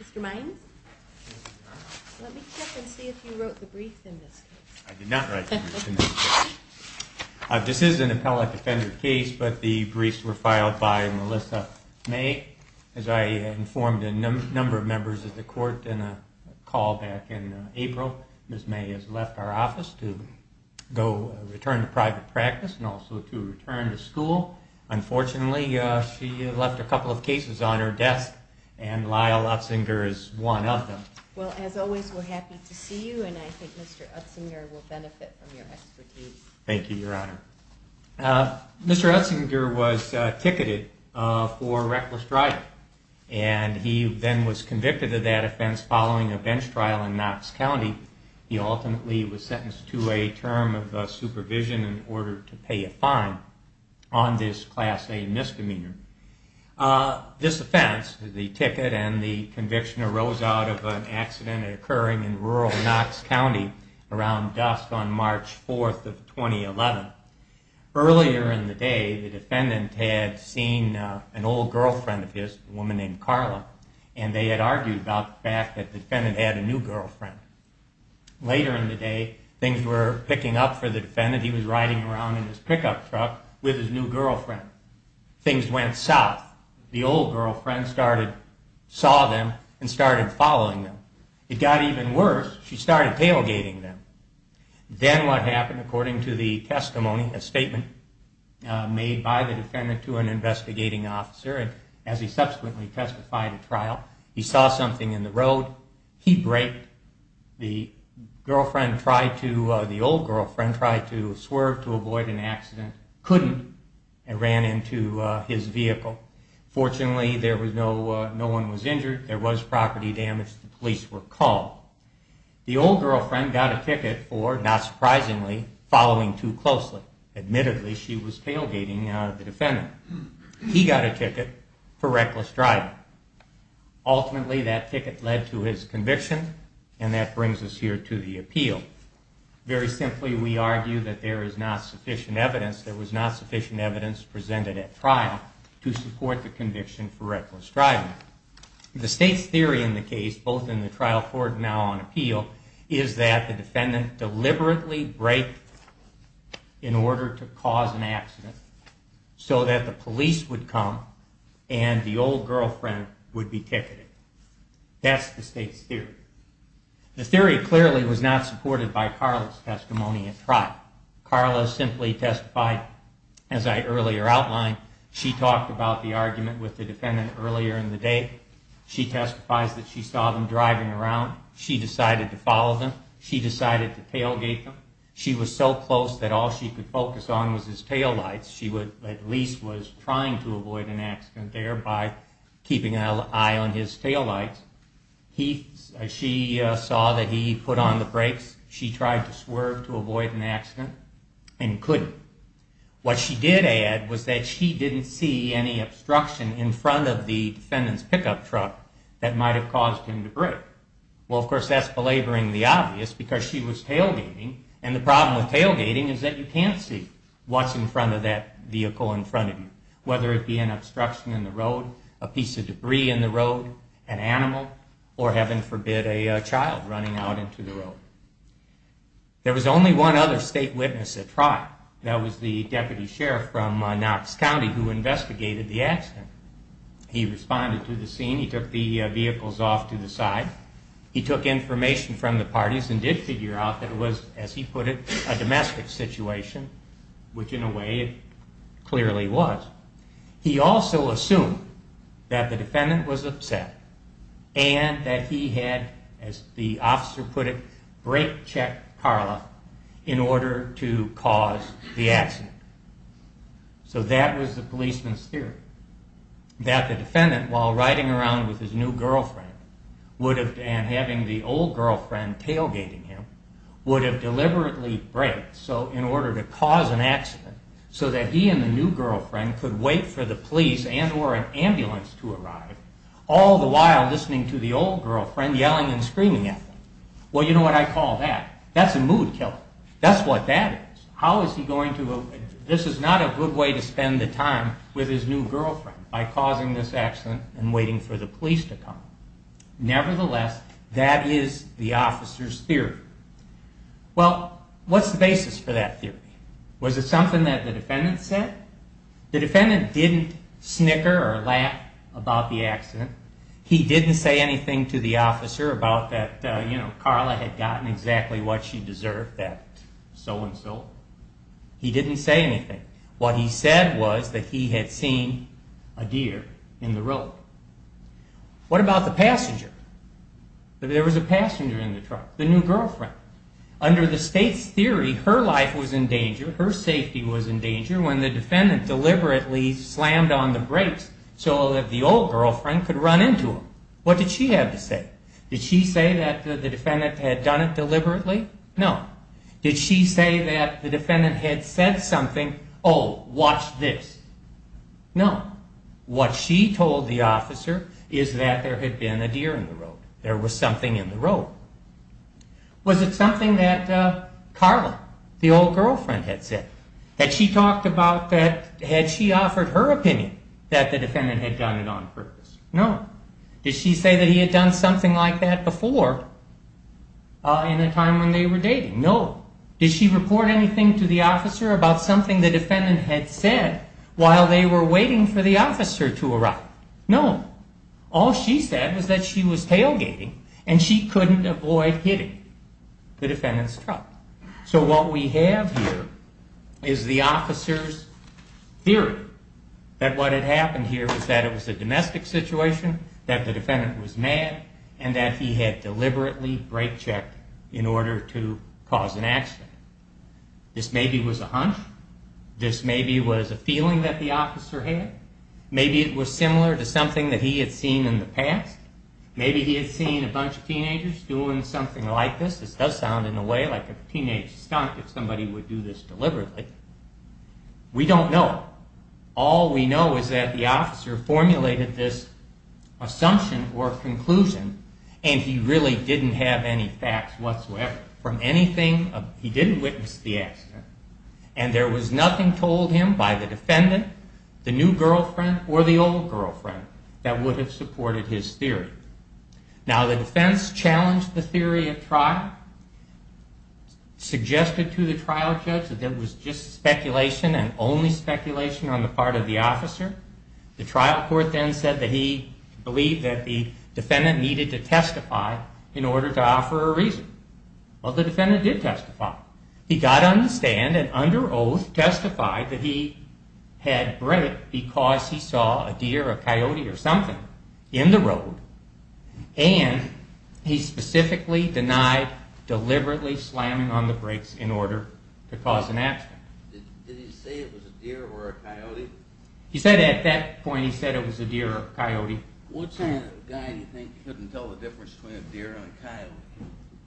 Mr. Mines, let me check and see if you wrote the briefs in this case. I did not write the briefs in this case. This is an appellate offender case, but the briefs were filed by Melissa May, as I informed a number of members of the court in a call back in April. Ms. May, if you would like to read the briefs. Ms. May has left our office to go return to private practice and also to return to school. Unfortunately, she left a couple of cases on her desk, and Lyle Utsinger is one of them. Well, as always, we're happy to see you, and I think Mr. Utsinger will benefit from your expertise. Thank you, Your Honor. Mr. Utsinger was ticketed for reckless driving, and he then was convicted of that offense following a bench trial in Knox County. He ultimately was sentenced to a term of supervision in order to pay a fine on this Class A misdemeanor. This offense, the ticket and the conviction arose out of an accident occurring in rural Knox County around dusk on March 4th of 2011. Earlier in the day, the defendant had seen an old girlfriend of his, a woman named Carla, and they had argued about the fact that the defendant had a new girlfriend. Later in the day, things were picking up for the defendant. He was riding around in his pickup truck with his new girlfriend. Things went south. The old girlfriend saw them and started following them. It got even worse. She started tailgating them. Then what happened, according to the testimony, a statement made by the defendant to an investigating officer, and as he subsequently testified at trial, he saw something in the road. He braked. The old girlfriend tried to swerve to avoid an accident, couldn't, and ran into his vehicle. Fortunately, no one was injured. There was property damage. The police were called. The old girlfriend got a ticket for, not surprisingly, following too closely. Admittedly, she was tailgating the defendant. He got a ticket for reckless driving. Ultimately, that ticket led to his conviction, and that brings us here to the appeal. Very simply, we argue that there is not sufficient evidence. There was not sufficient evidence presented at trial to support the conviction for reckless driving. The state's theory in the case, both in the trial court and now on appeal, is that the defendant deliberately braked in order to cause an accident so that the police would come and the old girlfriend would be ticketed. That's the state's theory. The theory clearly was not supported by Carla's testimony at trial. Carla simply testified, as I earlier outlined. She talked about the argument with the defendant earlier in the day. She testifies that she saw them driving around. She decided to follow them. She decided to tailgate them. She was so close that all she could focus on was his taillights. She at least was trying to avoid an accident there by keeping an eye on his taillights. She saw that he put on the brakes. She tried to swerve to avoid an accident and couldn't. What she did add was that she didn't see any obstruction in front of the defendant's pickup truck that might have caused him to brake. Well, of course, that's belaboring the obvious because she was tailgating, and the problem with tailgating is that you can't see what's in front of that vehicle in front of you, whether it be an obstruction in the road, a piece of debris in the road, an animal, or, heaven forbid, a child running out into the road. There was only one other state witness at trial. That was the deputy sheriff from Knox County who investigated the accident. He responded to the scene. He took the vehicles off to the side. He took information from the parties and did figure out that it was, as he put it, a domestic situation, which in a way it clearly was. He also assumed that the defendant was upset and that he had, as the officer put it, brought it to court. So that was the policeman's theory, that the defendant, while riding around with his new girlfriend and having the old girlfriend tailgating him, would have deliberately braked in order to cause an accident so that he and the new girlfriend could wait for the police and or an ambulance to arrive, all the while listening to the old girlfriend yelling and screaming at them. Well, you know what I call that? That's a mood killer. That's what that is. This is not a good way to spend the time with his new girlfriend, by causing this accident and waiting for the police to come. Nevertheless, that is the officer's theory. Well, what's the basis for that theory? Was it something that the defendant said? The defendant didn't snicker or laugh about the accident. He didn't say anything to the officer about that Carla had gotten exactly what she deserved, that so-and-so. He didn't say anything. What he said was that he had seen a deer in the road. What about the passenger? There was a passenger in the truck, the new girlfriend. Under the state's theory, her life was in danger, her safety was in danger, when the defendant deliberately slammed on the brakes so that the old girlfriend could run into him. What did she have to say? Did she say that the defendant had done it deliberately? No. Did she say that the defendant had said something, oh, watch this? No. What she told the officer is that there had been a deer in the road. There was something in the road. Was it something that Carla, the old girlfriend, had said? That she talked about that, had she offered her opinion that the defendant had done it on purpose? No. Did she say that he had done something like that before, in a time when they were dating? No. Did she report anything to the officer about something the defendant had said while they were waiting for the officer to arrive? No. All she said was that she was tailgating and she couldn't avoid hitting the defendant's truck. So what we have here is the officer's theory that what had happened here was that it was a domestic situation, that the defendant was mad, and that he had deliberately brake checked in order to cause an accident. This maybe was a hunch. This maybe was a feeling that the officer had. Maybe it was similar to something that he had seen in the past. Maybe he had seen a bunch of teenagers doing something like this. This does sound in a way like a teenage stunt if somebody would do this deliberately. We don't know. All we know is that the officer formulated this assumption or conclusion, and he really didn't have any facts whatsoever. He didn't witness the accident, and there was nothing told him by the defendant, the new girlfriend, or the old girlfriend, that would have supported his theory. Now the defense challenged the theory of trial, suggested to the trial judge that there was just speculation and only speculation on the part of the officer. The trial court then said that he believed that the defendant needed to testify in order to offer a reason. Well, the defendant did testify. He got on the stand and under oath testified that he had braked because he saw a deer or a coyote or something in the road, and he specifically denied deliberately slamming on the brakes in order to cause an accident. Did he say it was a deer or a coyote? He said at that point it was a deer or a coyote. What kind of guy do you think couldn't tell the difference between a deer and a coyote?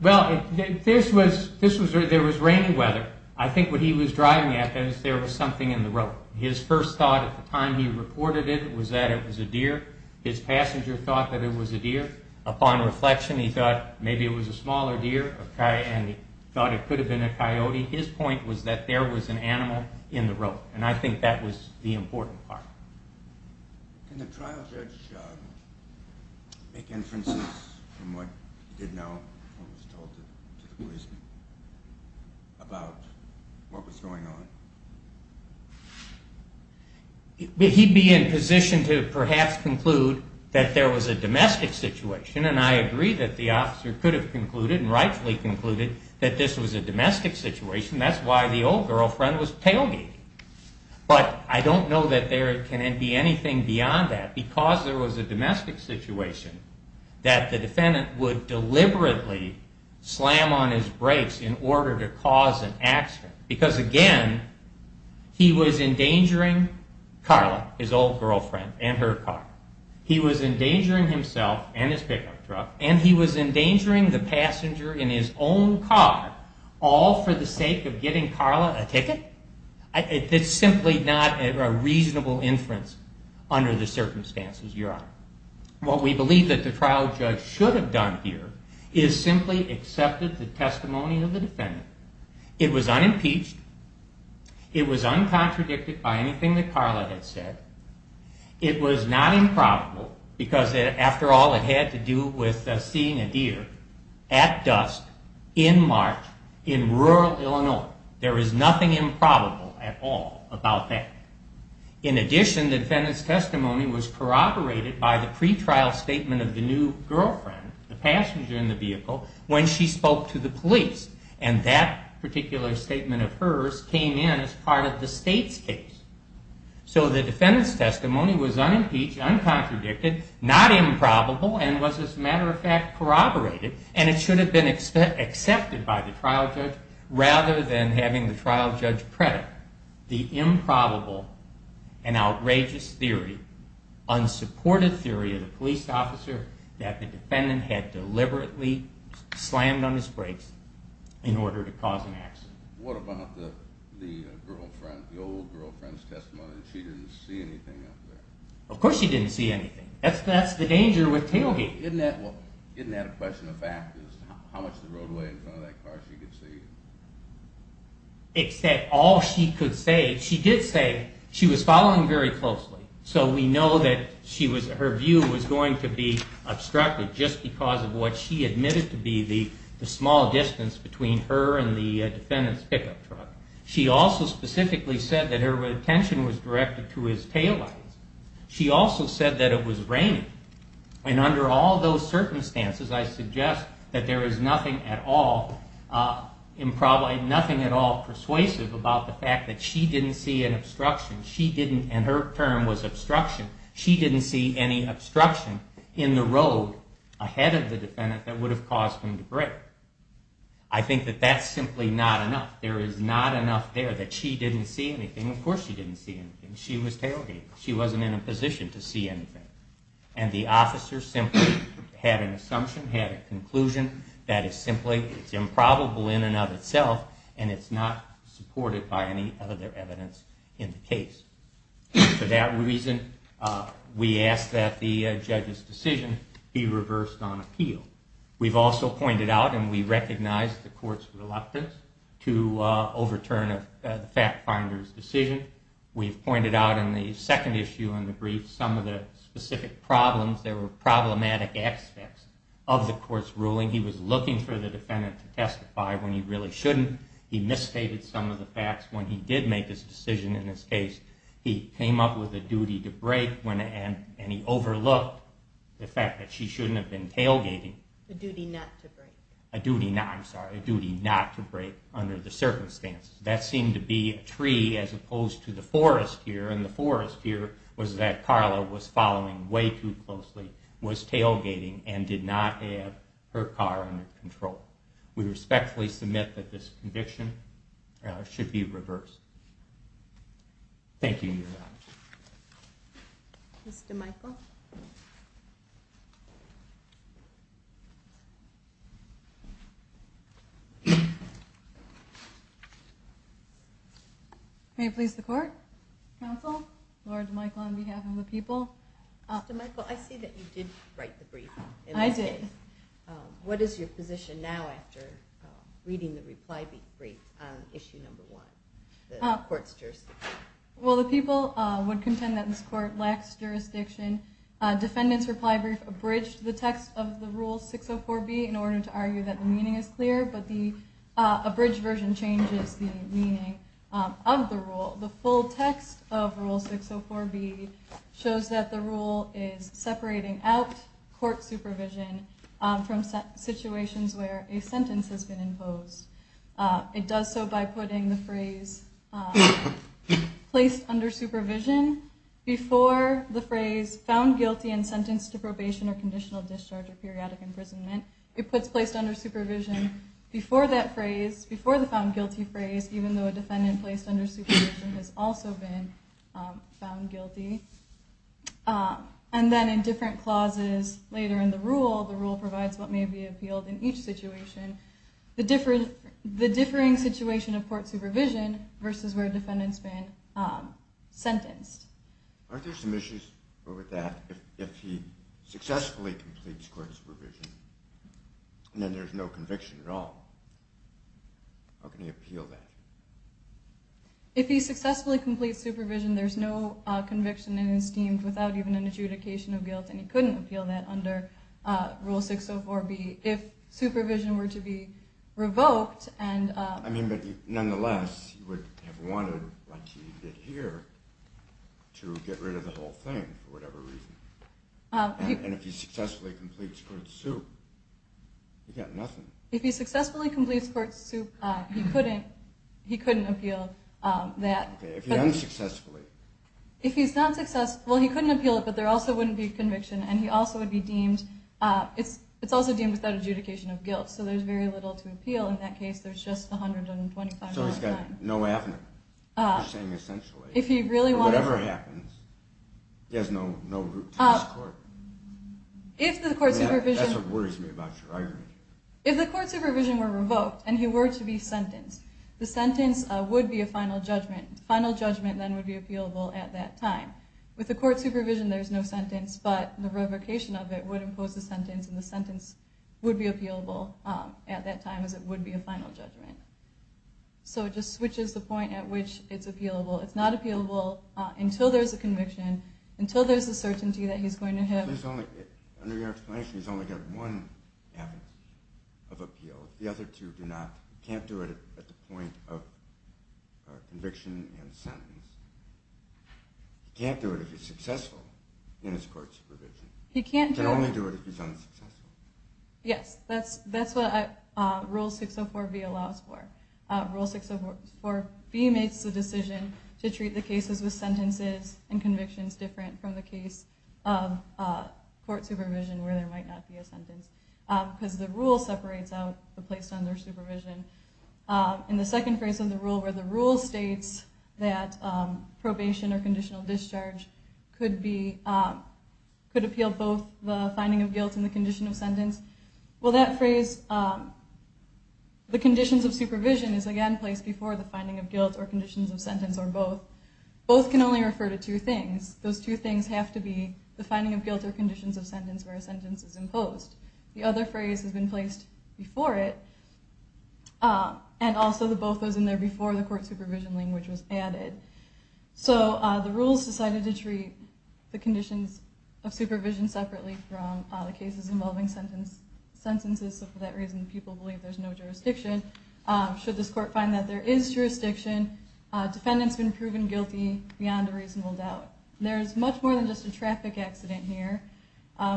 Well, there was rainy weather. I think what he was driving at was there was something in the road. His first thought at the time he reported it was that it was a deer. His passenger thought that it was a deer. Upon reflection, he thought maybe it was a smaller deer, and he thought it could have been a coyote. His point was that there was an animal in the road, and I think that was the important part. Can the trial judge make inferences from what he did know or was told to the police about what was going on? He'd be in position to perhaps conclude that there was a domestic situation, and I agree that the officer could have concluded and rightfully concluded that this was a domestic situation. That's why the old girlfriend was tailgating. But I don't know that there can be anything beyond that, because there was a domestic situation that the defendant would deliberately slam on his brakes in order to cause an accident. Because again, he was endangering Carla, his old girlfriend, and her car. He was endangering himself and his pickup truck, and he was endangering the passenger in his own car, all for the sake of getting Carla a ticket? It's simply not a reasonable inference under the circumstances, Your Honor. What we believe that the trial judge should have done here is simply accepted the testimony of the defendant. It was unimpeached. It was uncontradicted by anything that Carla had said. It was not improbable, because after all, it had to do with seeing a deer at dusk in March in rural Illinois. There is nothing improbable at all about that. In addition, the defendant's testimony was corroborated by the pretrial statement of the new girlfriend, the passenger in the vehicle, when she spoke to the police. And that particular statement of hers came in as part of the state's case. So the defendant's testimony was unimpeached, uncontradicted, not improbable, and was, as a matter of fact, corroborated. And it should have been accepted by the trial judge, rather than having the trial judge predict the improbable and outrageous theory, unsupported theory of the police officer, that the defendant had deliberately slammed on his brakes in order to cause an accident. What about the girlfriend, the old girlfriend's testimony, that she didn't see anything up there? Of course she didn't see anything. That's the danger with tailgate. Isn't that a question of fact, is how much of the roadway in front of that car she could see? Except all she could say, she did say she was following very closely. So we know that her view was going to be obstructed just because of what she admitted to be the small distance between her and the defendant's pickup truck. She also specifically said that her attention was directed to his taillights. She also said that it was raining. And under all those circumstances, I suggest that there is nothing at all persuasive about the fact that she didn't see an obstruction. She didn't, and her term was obstruction, she didn't see any obstruction in the road ahead of the defendant that would have caused him to brake. I think that that's simply not enough. There is not enough there that she didn't see anything. And of course she didn't see anything. She was tailgated. She wasn't in a position to see anything. And the officer simply had an assumption, had a conclusion that is simply improbable in and of itself, and it's not supported by any other evidence in the case. For that reason, we ask that the judge's decision be reversed on appeal. We've also pointed out and we recognize the court's reluctance to overturn the fact finder's decision. We've pointed out in the second issue in the brief some of the specific problems. There were problematic aspects of the court's ruling. He was looking for the defendant to testify when he really shouldn't. He misstated some of the facts when he did make his decision in this case. He came up with a duty to brake and he overlooked the fact that she shouldn't have been tailgating. A duty not to brake. A duty not, I'm sorry, a duty not to brake under the circumstances. That seemed to be a tree as opposed to the forest here. And the forest here was that Carla was following way too closely, was tailgating, and did not have her car under control. We respectfully submit that this conviction should be reversed. Thank you. Mr. Michael. May it please the court, counsel, Laura DeMichael on behalf of the people. Mr. Michael, I see that you did write the brief. I did. What is your position now after reading the reply brief on issue number one, the court's jurisdiction? Well, the people would contend that this court lacks jurisdiction. Defendant's reply brief abridged the text of the Rule 604B in order to argue that the meaning is clear, but the abridged version changes the meaning of the rule. The full text of Rule 604B shows that the rule is separating out court supervision from situations where a sentence has been imposed. It does so by putting the phrase placed under supervision before the phrase found guilty and sentenced to probation or conditional discharge or periodic imprisonment. It puts placed under supervision before that phrase, before the found guilty phrase, even though a defendant placed under supervision has also been found guilty. And then in different clauses later in the rule, the rule provides what may be appealed in each situation, the differing situation of court supervision versus where a defendant's been sentenced. Aren't there some issues with that? If he successfully completes court supervision, then there's no conviction at all. How can he appeal that? If he successfully completes supervision, there's no conviction in his team without even an adjudication of guilt, and he couldn't appeal that under Rule 604B. If supervision were to be revoked and— I mean, but nonetheless, he would have wanted, like he did here, to get rid of the whole thing for whatever reason. And if he successfully completes court suit, he got nothing. If he successfully completes court suit, he couldn't appeal that. If he unsuccessfully. If he's unsuccessful, he couldn't appeal it, but there also wouldn't be a conviction, and he also would be deemed—it's also deemed without adjudication of guilt, so there's very little to appeal in that case. There's just 125 hours of time. So he's got no avenue, you're saying, essentially. If he really wanted— Whatever happens, he has no route to this court. If the court supervision— That's what worries me about your argument. If the court supervision were revoked and he were to be sentenced, the sentence would be a final judgment. The final judgment then would be appealable at that time. With the court supervision, there's no sentence, but the revocation of it would impose a sentence, and the sentence would be appealable at that time, as it would be a final judgment. So it just switches the point at which it's appealable. It's not appealable until there's a conviction, until there's a certainty that he's going to have— Under your explanation, he's only got one avenue of appeal. The other two do not—he can't do it at the point of conviction and sentence. He can't do it if he's successful in his court supervision. He can't do it— He can only do it if he's unsuccessful. Yes, that's what Rule 604B allows for. Rule 604B makes the decision to treat the cases with sentences and convictions different from the case of court supervision, where there might not be a sentence, because the rule separates out the place under supervision. In the second phrase of the rule, where the rule states that probation or conditional discharge could appeal both the finding of guilt and the condition of sentence, well, that phrase, the conditions of supervision, is again placed before the finding of guilt or conditions of sentence or both. Both can only refer to two things. Those two things have to be the finding of guilt or conditions of sentence where a sentence is imposed. The other phrase has been placed before it, and also the both goes in there before the court supervision language was added. So the rules decided to treat the conditions of supervision separately from the cases involving sentences. So for that reason, people believe there's no jurisdiction. Should this court find that there is jurisdiction, defendant's been proven guilty beyond a reasonable doubt. There's much more than just a traffic accident here.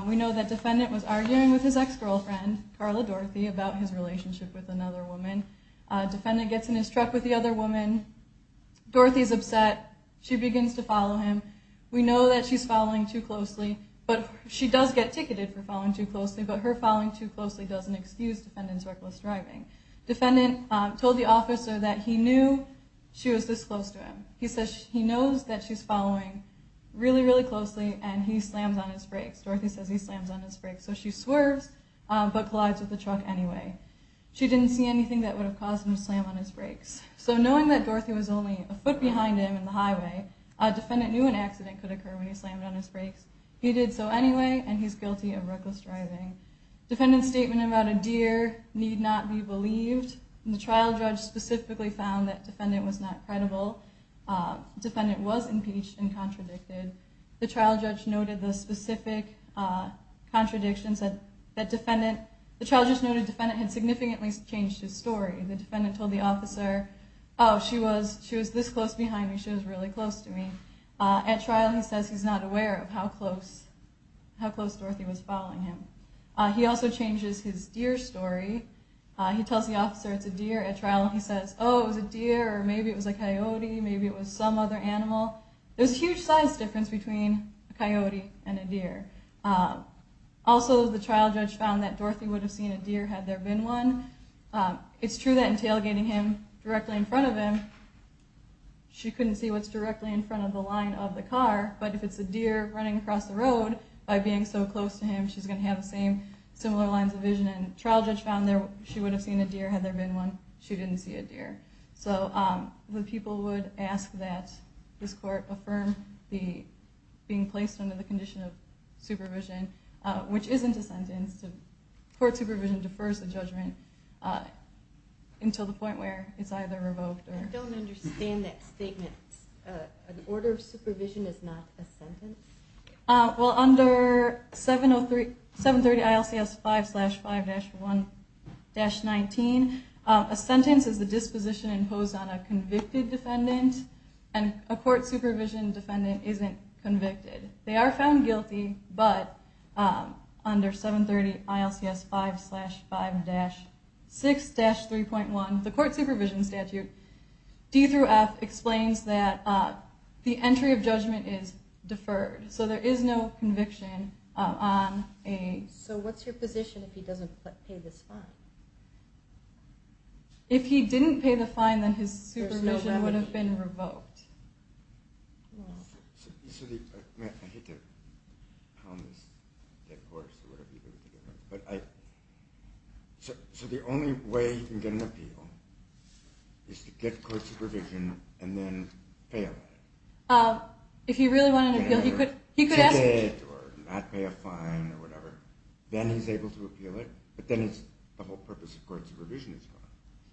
We know that defendant was arguing with his ex-girlfriend, Carla Dorothy, about his relationship with another woman. Defendant gets in his truck with the other woman. Dorothy's upset. She begins to follow him. We know that she's following too closely, but she does get ticketed for following too closely, but her following too closely doesn't excuse defendant's reckless driving. Defendant told the officer that he knew she was this close to him. He says he knows that she's following really, really closely, and he slams on his brakes. Dorothy says he slams on his brakes. So she swerves but collides with the truck anyway. She didn't see anything that would have caused him to slam on his brakes. So knowing that Dorothy was only a foot behind him in the highway, defendant knew an accident could occur when he slammed on his brakes. He did so anyway, and he's guilty of reckless driving. Defendant's statement about a deer need not be believed. The trial judge specifically found that defendant was not credible. Defendant was impeached and contradicted. The trial judge noted the specific contradictions. The trial judge noted defendant had significantly changed his story. The defendant told the officer, oh, she was this close behind me. She was really close to me. At trial he says he's not aware of how close Dorothy was following him. He also changes his deer story. He tells the officer it's a deer. At trial he says, oh, it was a deer, or maybe it was a coyote, maybe it was some other animal. There's a huge size difference between a coyote and a deer. Also the trial judge found that Dorothy would have seen a deer had there been one. It's true that in tailgating him directly in front of him, she couldn't see what's directly in front of the line of the car. But if it's a deer running across the road, by being so close to him, she's going to have the same similar lines of vision. Trial judge found she would have seen a deer had there been one. She didn't see a deer. So the people would ask that this court affirm being placed under the condition of supervision, which isn't a sentence. Court supervision defers the judgment until the point where it's either revoked or not. I don't understand that statement. An order of supervision is not a sentence? Well, under 730 ILCS 5-5-1-19, a sentence is the disposition imposed on a convicted defendant, and a court supervision defendant isn't convicted. They are found guilty, but under 730 ILCS 5-5-6-3.1, the court supervision statute, D through F, explains that the entry of judgment is deferred. So there is no conviction on a... So what's your position if he doesn't pay this fine? If he didn't pay the fine, then his supervision would have been revoked. So the only way you can get an appeal is to get court supervision and then fail at it? If he really wanted an appeal, he could ask for it. Or not pay a fine or whatever. Then he's able to appeal it, but then the whole purpose of court supervision is gone.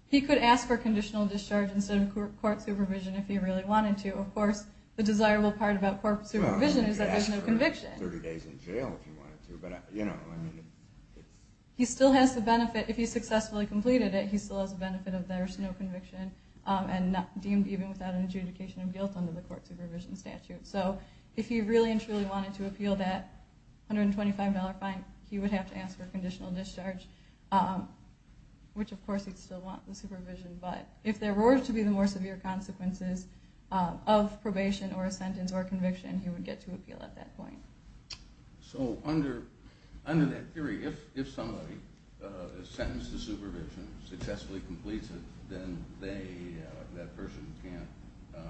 He could ask for conditional discharge instead of court supervision if he really wanted to. Of course, the desirable part about court supervision is that there's no conviction. You could ask for 30 days in jail if you wanted to. He still has the benefit, if he successfully completed it, he still has the benefit of there's no conviction, and deemed even without an adjudication of guilt under the court supervision statute. So if he really and truly wanted to appeal that $125 fine, he would have to ask for conditional discharge, which of course he'd still want the supervision. But if there were to be the more severe consequences of probation or a sentence or conviction, he would get to appeal at that point. So under that theory, if somebody is sentenced to supervision, successfully completes it, then that person can't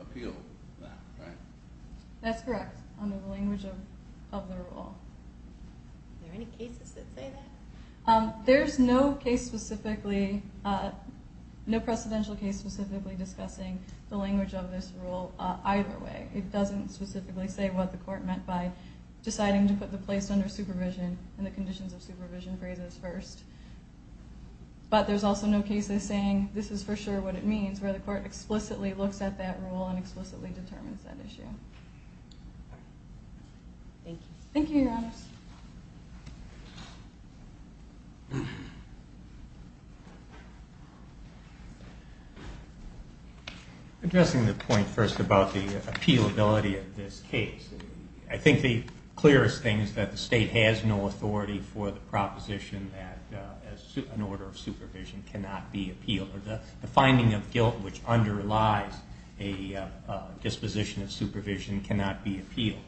appeal now, right? That's correct, under the language of the rule. Are there any cases that say that? There's no precedential case specifically discussing the language of this rule either way. It doesn't specifically say what the court meant by deciding to put the place under supervision and the conditions of supervision phrases first. But there's also no case that's saying this is for sure what it means, where the court explicitly looks at that rule and explicitly determines that issue. Thank you. Thank you, Your Honors. Addressing the point first about the appealability of this case, I think the clearest thing is that the state has no authority for the proposition that an order of supervision cannot be appealed, or the finding of guilt which underlies a disposition of supervision cannot be appealed.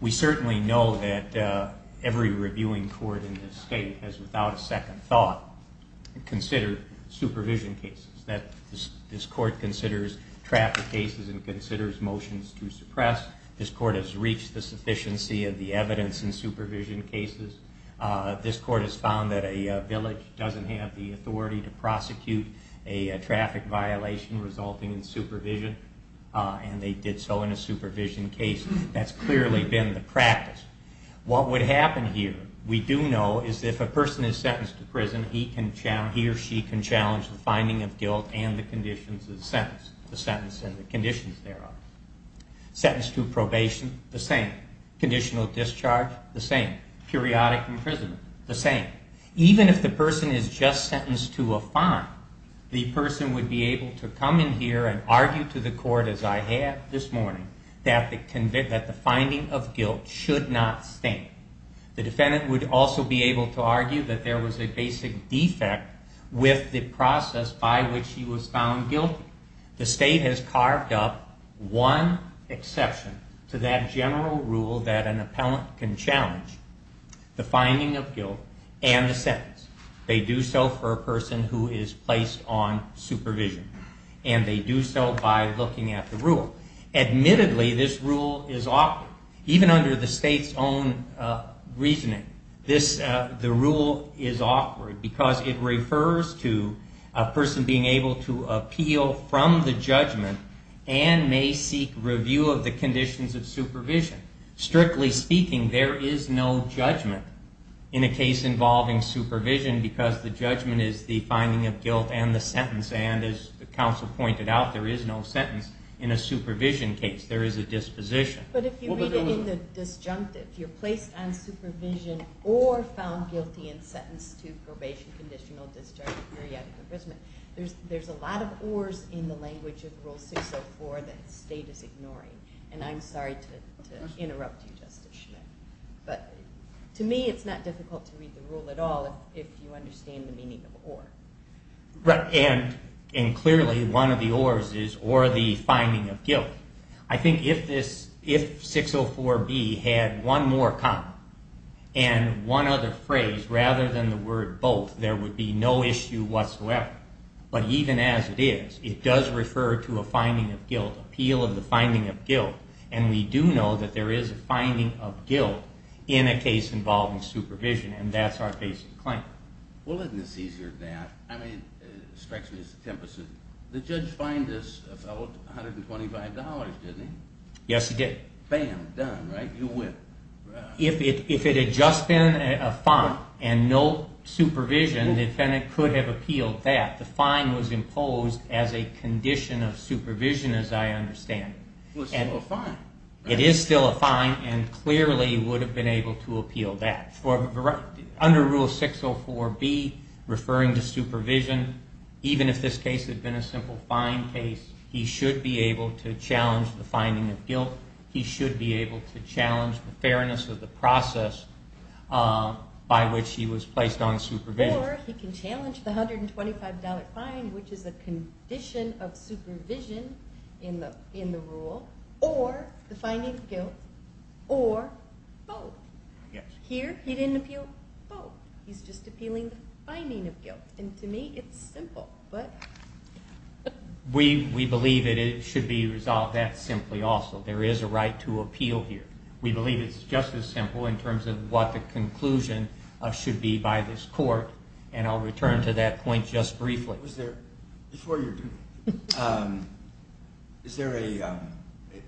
We certainly know that every reviewing court in this state has, without a second thought, considered supervision cases, that this court considers traffic cases and considers motions to suppress. This court has reached the sufficiency of the evidence in supervision cases. This court has found that a village doesn't have the authority to prosecute a traffic violation resulting in supervision, and they did so in a supervision case. That's clearly been the practice. What would happen here, we do know, is if a person is sentenced to prison, he or she can challenge the finding of guilt and the conditions of the sentence, the sentence and the conditions thereof. Sentence to probation, the same. Even if the person is just sentenced to a fine, the person would be able to come in here and argue to the court, as I have this morning, that the finding of guilt should not stand. The defendant would also be able to argue that there was a basic defect with the process by which he was found guilty. The state has carved up one exception to that general rule that an appellant can challenge. The finding of guilt and the sentence. They do so for a person who is placed on supervision, and they do so by looking at the rule. Admittedly, this rule is awkward. Even under the state's own reasoning, the rule is awkward because it refers to a person being able to appeal from the judgment and may seek review of the conditions of supervision. Strictly speaking, there is no judgment in a case involving supervision because the judgment is the finding of guilt and the sentence, and as the counsel pointed out, there is no sentence in a supervision case. There is a disposition. But if you read it in the disjunctive, you're placed on supervision or found guilty and sentenced to probation, conditional, disjunctive, periodic imprisonment. There's a lot of ors in the language of Rule 604 that the state is ignoring, and I'm sorry to interrupt you, Justice Schmidt, but to me it's not difficult to read the rule at all if you understand the meaning of or. Right, and clearly one of the ors is or the finding of guilt. I think if 604B had one more comma and one other phrase rather than the word both, there would be no issue whatsoever. Right. But even as it is, it does refer to a finding of guilt, appeal of the finding of guilt, and we do know that there is a finding of guilt in a case involving supervision, and that's our basic claim. Well, isn't this easier than that? I mean, it strikes me as the tempest. The judge fined this fellow $125, didn't he? Yes, he did. Bam, done, right? You win. If it had just been a fine and no supervision, the defendant could have appealed that. The fine was imposed as a condition of supervision, as I understand it. It was still a fine. It is still a fine and clearly would have been able to appeal that. Under Rule 604B, referring to supervision, even if this case had been a simple fine case, he should be able to challenge the finding of guilt. He should be able to challenge the fairness of the process by which he was placed on supervision. Or he can challenge the $125 fine, which is a condition of supervision in the rule, or the finding of guilt, or both. Here he didn't appeal both. He's just appealing the finding of guilt, and to me it's simple. We believe that it should be resolved that simply also. There is a right to appeal here. We believe it's just as simple in terms of what the conclusion should be by this court, and I'll return to that point just briefly. Before you do, is there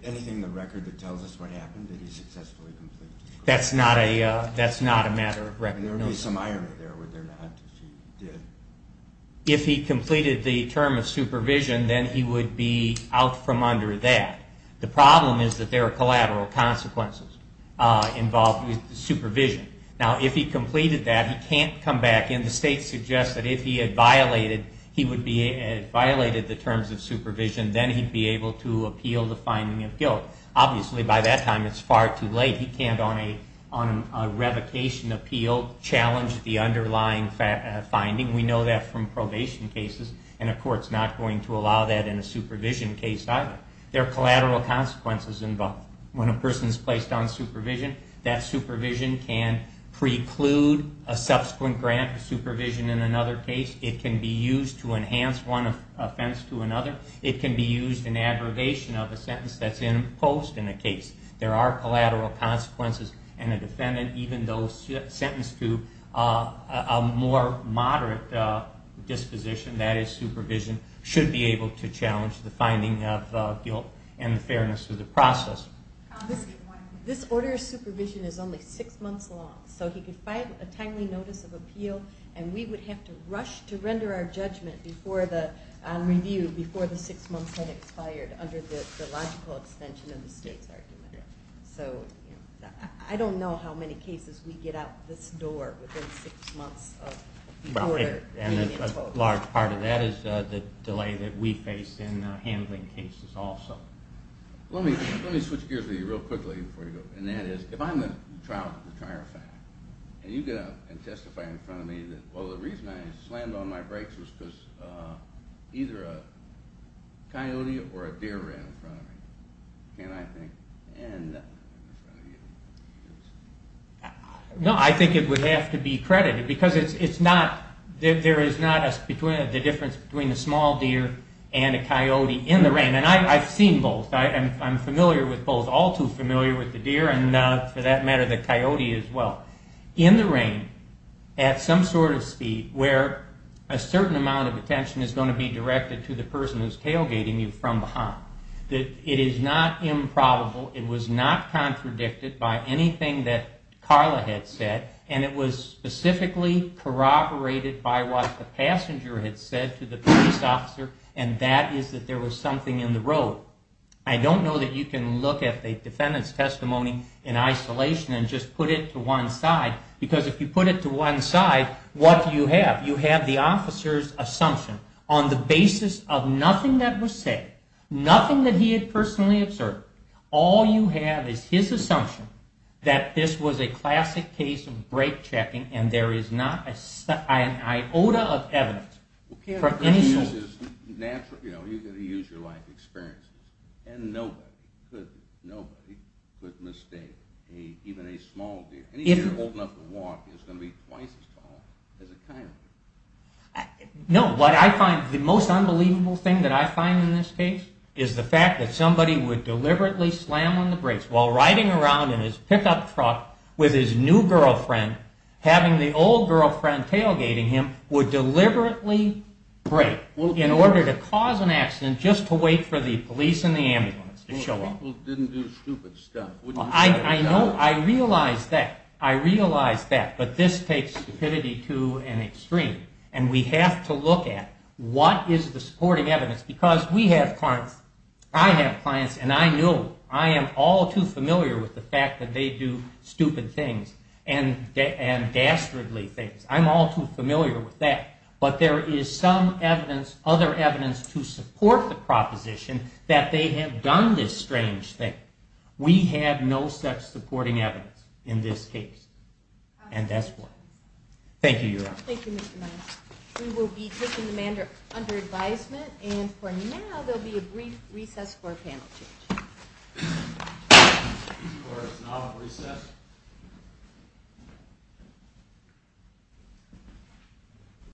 anything in the record that tells us what happened, that he successfully completed? That's not a matter of recognition. There would be some irony there, would there not, if he did? If he completed the term of supervision, then he would be out from under that. The problem is that there are collateral consequences involved with supervision. Now, if he completed that, he can't come back in. The state suggests that if he had violated the terms of supervision, then he'd be able to appeal the finding of guilt. Obviously, by that time it's far too late. He can't, on a revocation appeal, challenge the underlying finding. We know that from probation cases, and a court's not going to allow that in a supervision case either. There are collateral consequences involved. When a person is placed on supervision, that supervision can preclude a subsequent grant of supervision in another case. It can be used to enhance one offense to another. It can be used in aggregation of a sentence that's imposed in a case. There are collateral consequences, and a defendant, even though sentenced to a more moderate disposition, that is supervision, should be able to challenge the finding of guilt and the fairness of the process. This order of supervision is only six months long, so he could file a timely notice of appeal, and we would have to rush to render our judgment on review before the six months had expired under the logical extension of the state's argument. I don't know how many cases we get out this door within six months of the order being imposed. A large part of that is the delay that we face in handling cases also. Let me switch gears with you real quickly before you go. If I'm the trial fact, and you get up and testify in front of me that, well, the reason I slammed on my brakes was because either a coyote or a deer ran in front of me, can I think, and not run in front of you? No, I think it would have to be credited, because there is not the difference between a small deer and a coyote in the rain. And I've seen both. I'm familiar with both, all too familiar with the deer and, for that matter, the coyote as well. In the rain, at some sort of speed where a certain amount of attention is going to be directed to the person who's tailgating you from behind, it is not improbable, it was not contradicted by anything that Carla had said, and it was specifically corroborated by what the passenger had said to the police officer, and that is that there was something in the road. I don't know that you can look at the defendant's testimony in isolation and just put it to one side, because if you put it to one side, what do you have? You have the officer's assumption on the basis of nothing that was said, nothing that he had personally observed. All you have is his assumption that this was a classic case of break-checking and there is not an iota of evidence for any source. You've got to use your life experiences. And nobody could mistake even a small deer. Any deer old enough to walk is going to be twice as tall as a coyote. No, what I find, the most unbelievable thing that I find in this case is the fact that somebody would deliberately slam on the brakes while riding around in his pickup truck with his new girlfriend, having the old girlfriend tailgating him, would deliberately brake in order to cause an accident just to wait for the police and the ambulance to show up. I realize that, I realize that, but this takes stupidity to an extreme. And we have to look at what is the supporting evidence, because we have clients, I have clients, and I know, I am all too familiar with the fact that they do stupid things and dastardly things. I'm all too familiar with that. But there is some evidence, other evidence, to support the proposition that they have done this strange thing. We have no such supporting evidence in this case. And that's why. Thank you, Your Honor. Thank you, Mr. Myers. We will be taking the matter under advisement. And for now, there will be a brief recess for a panel change. Court is now at recess.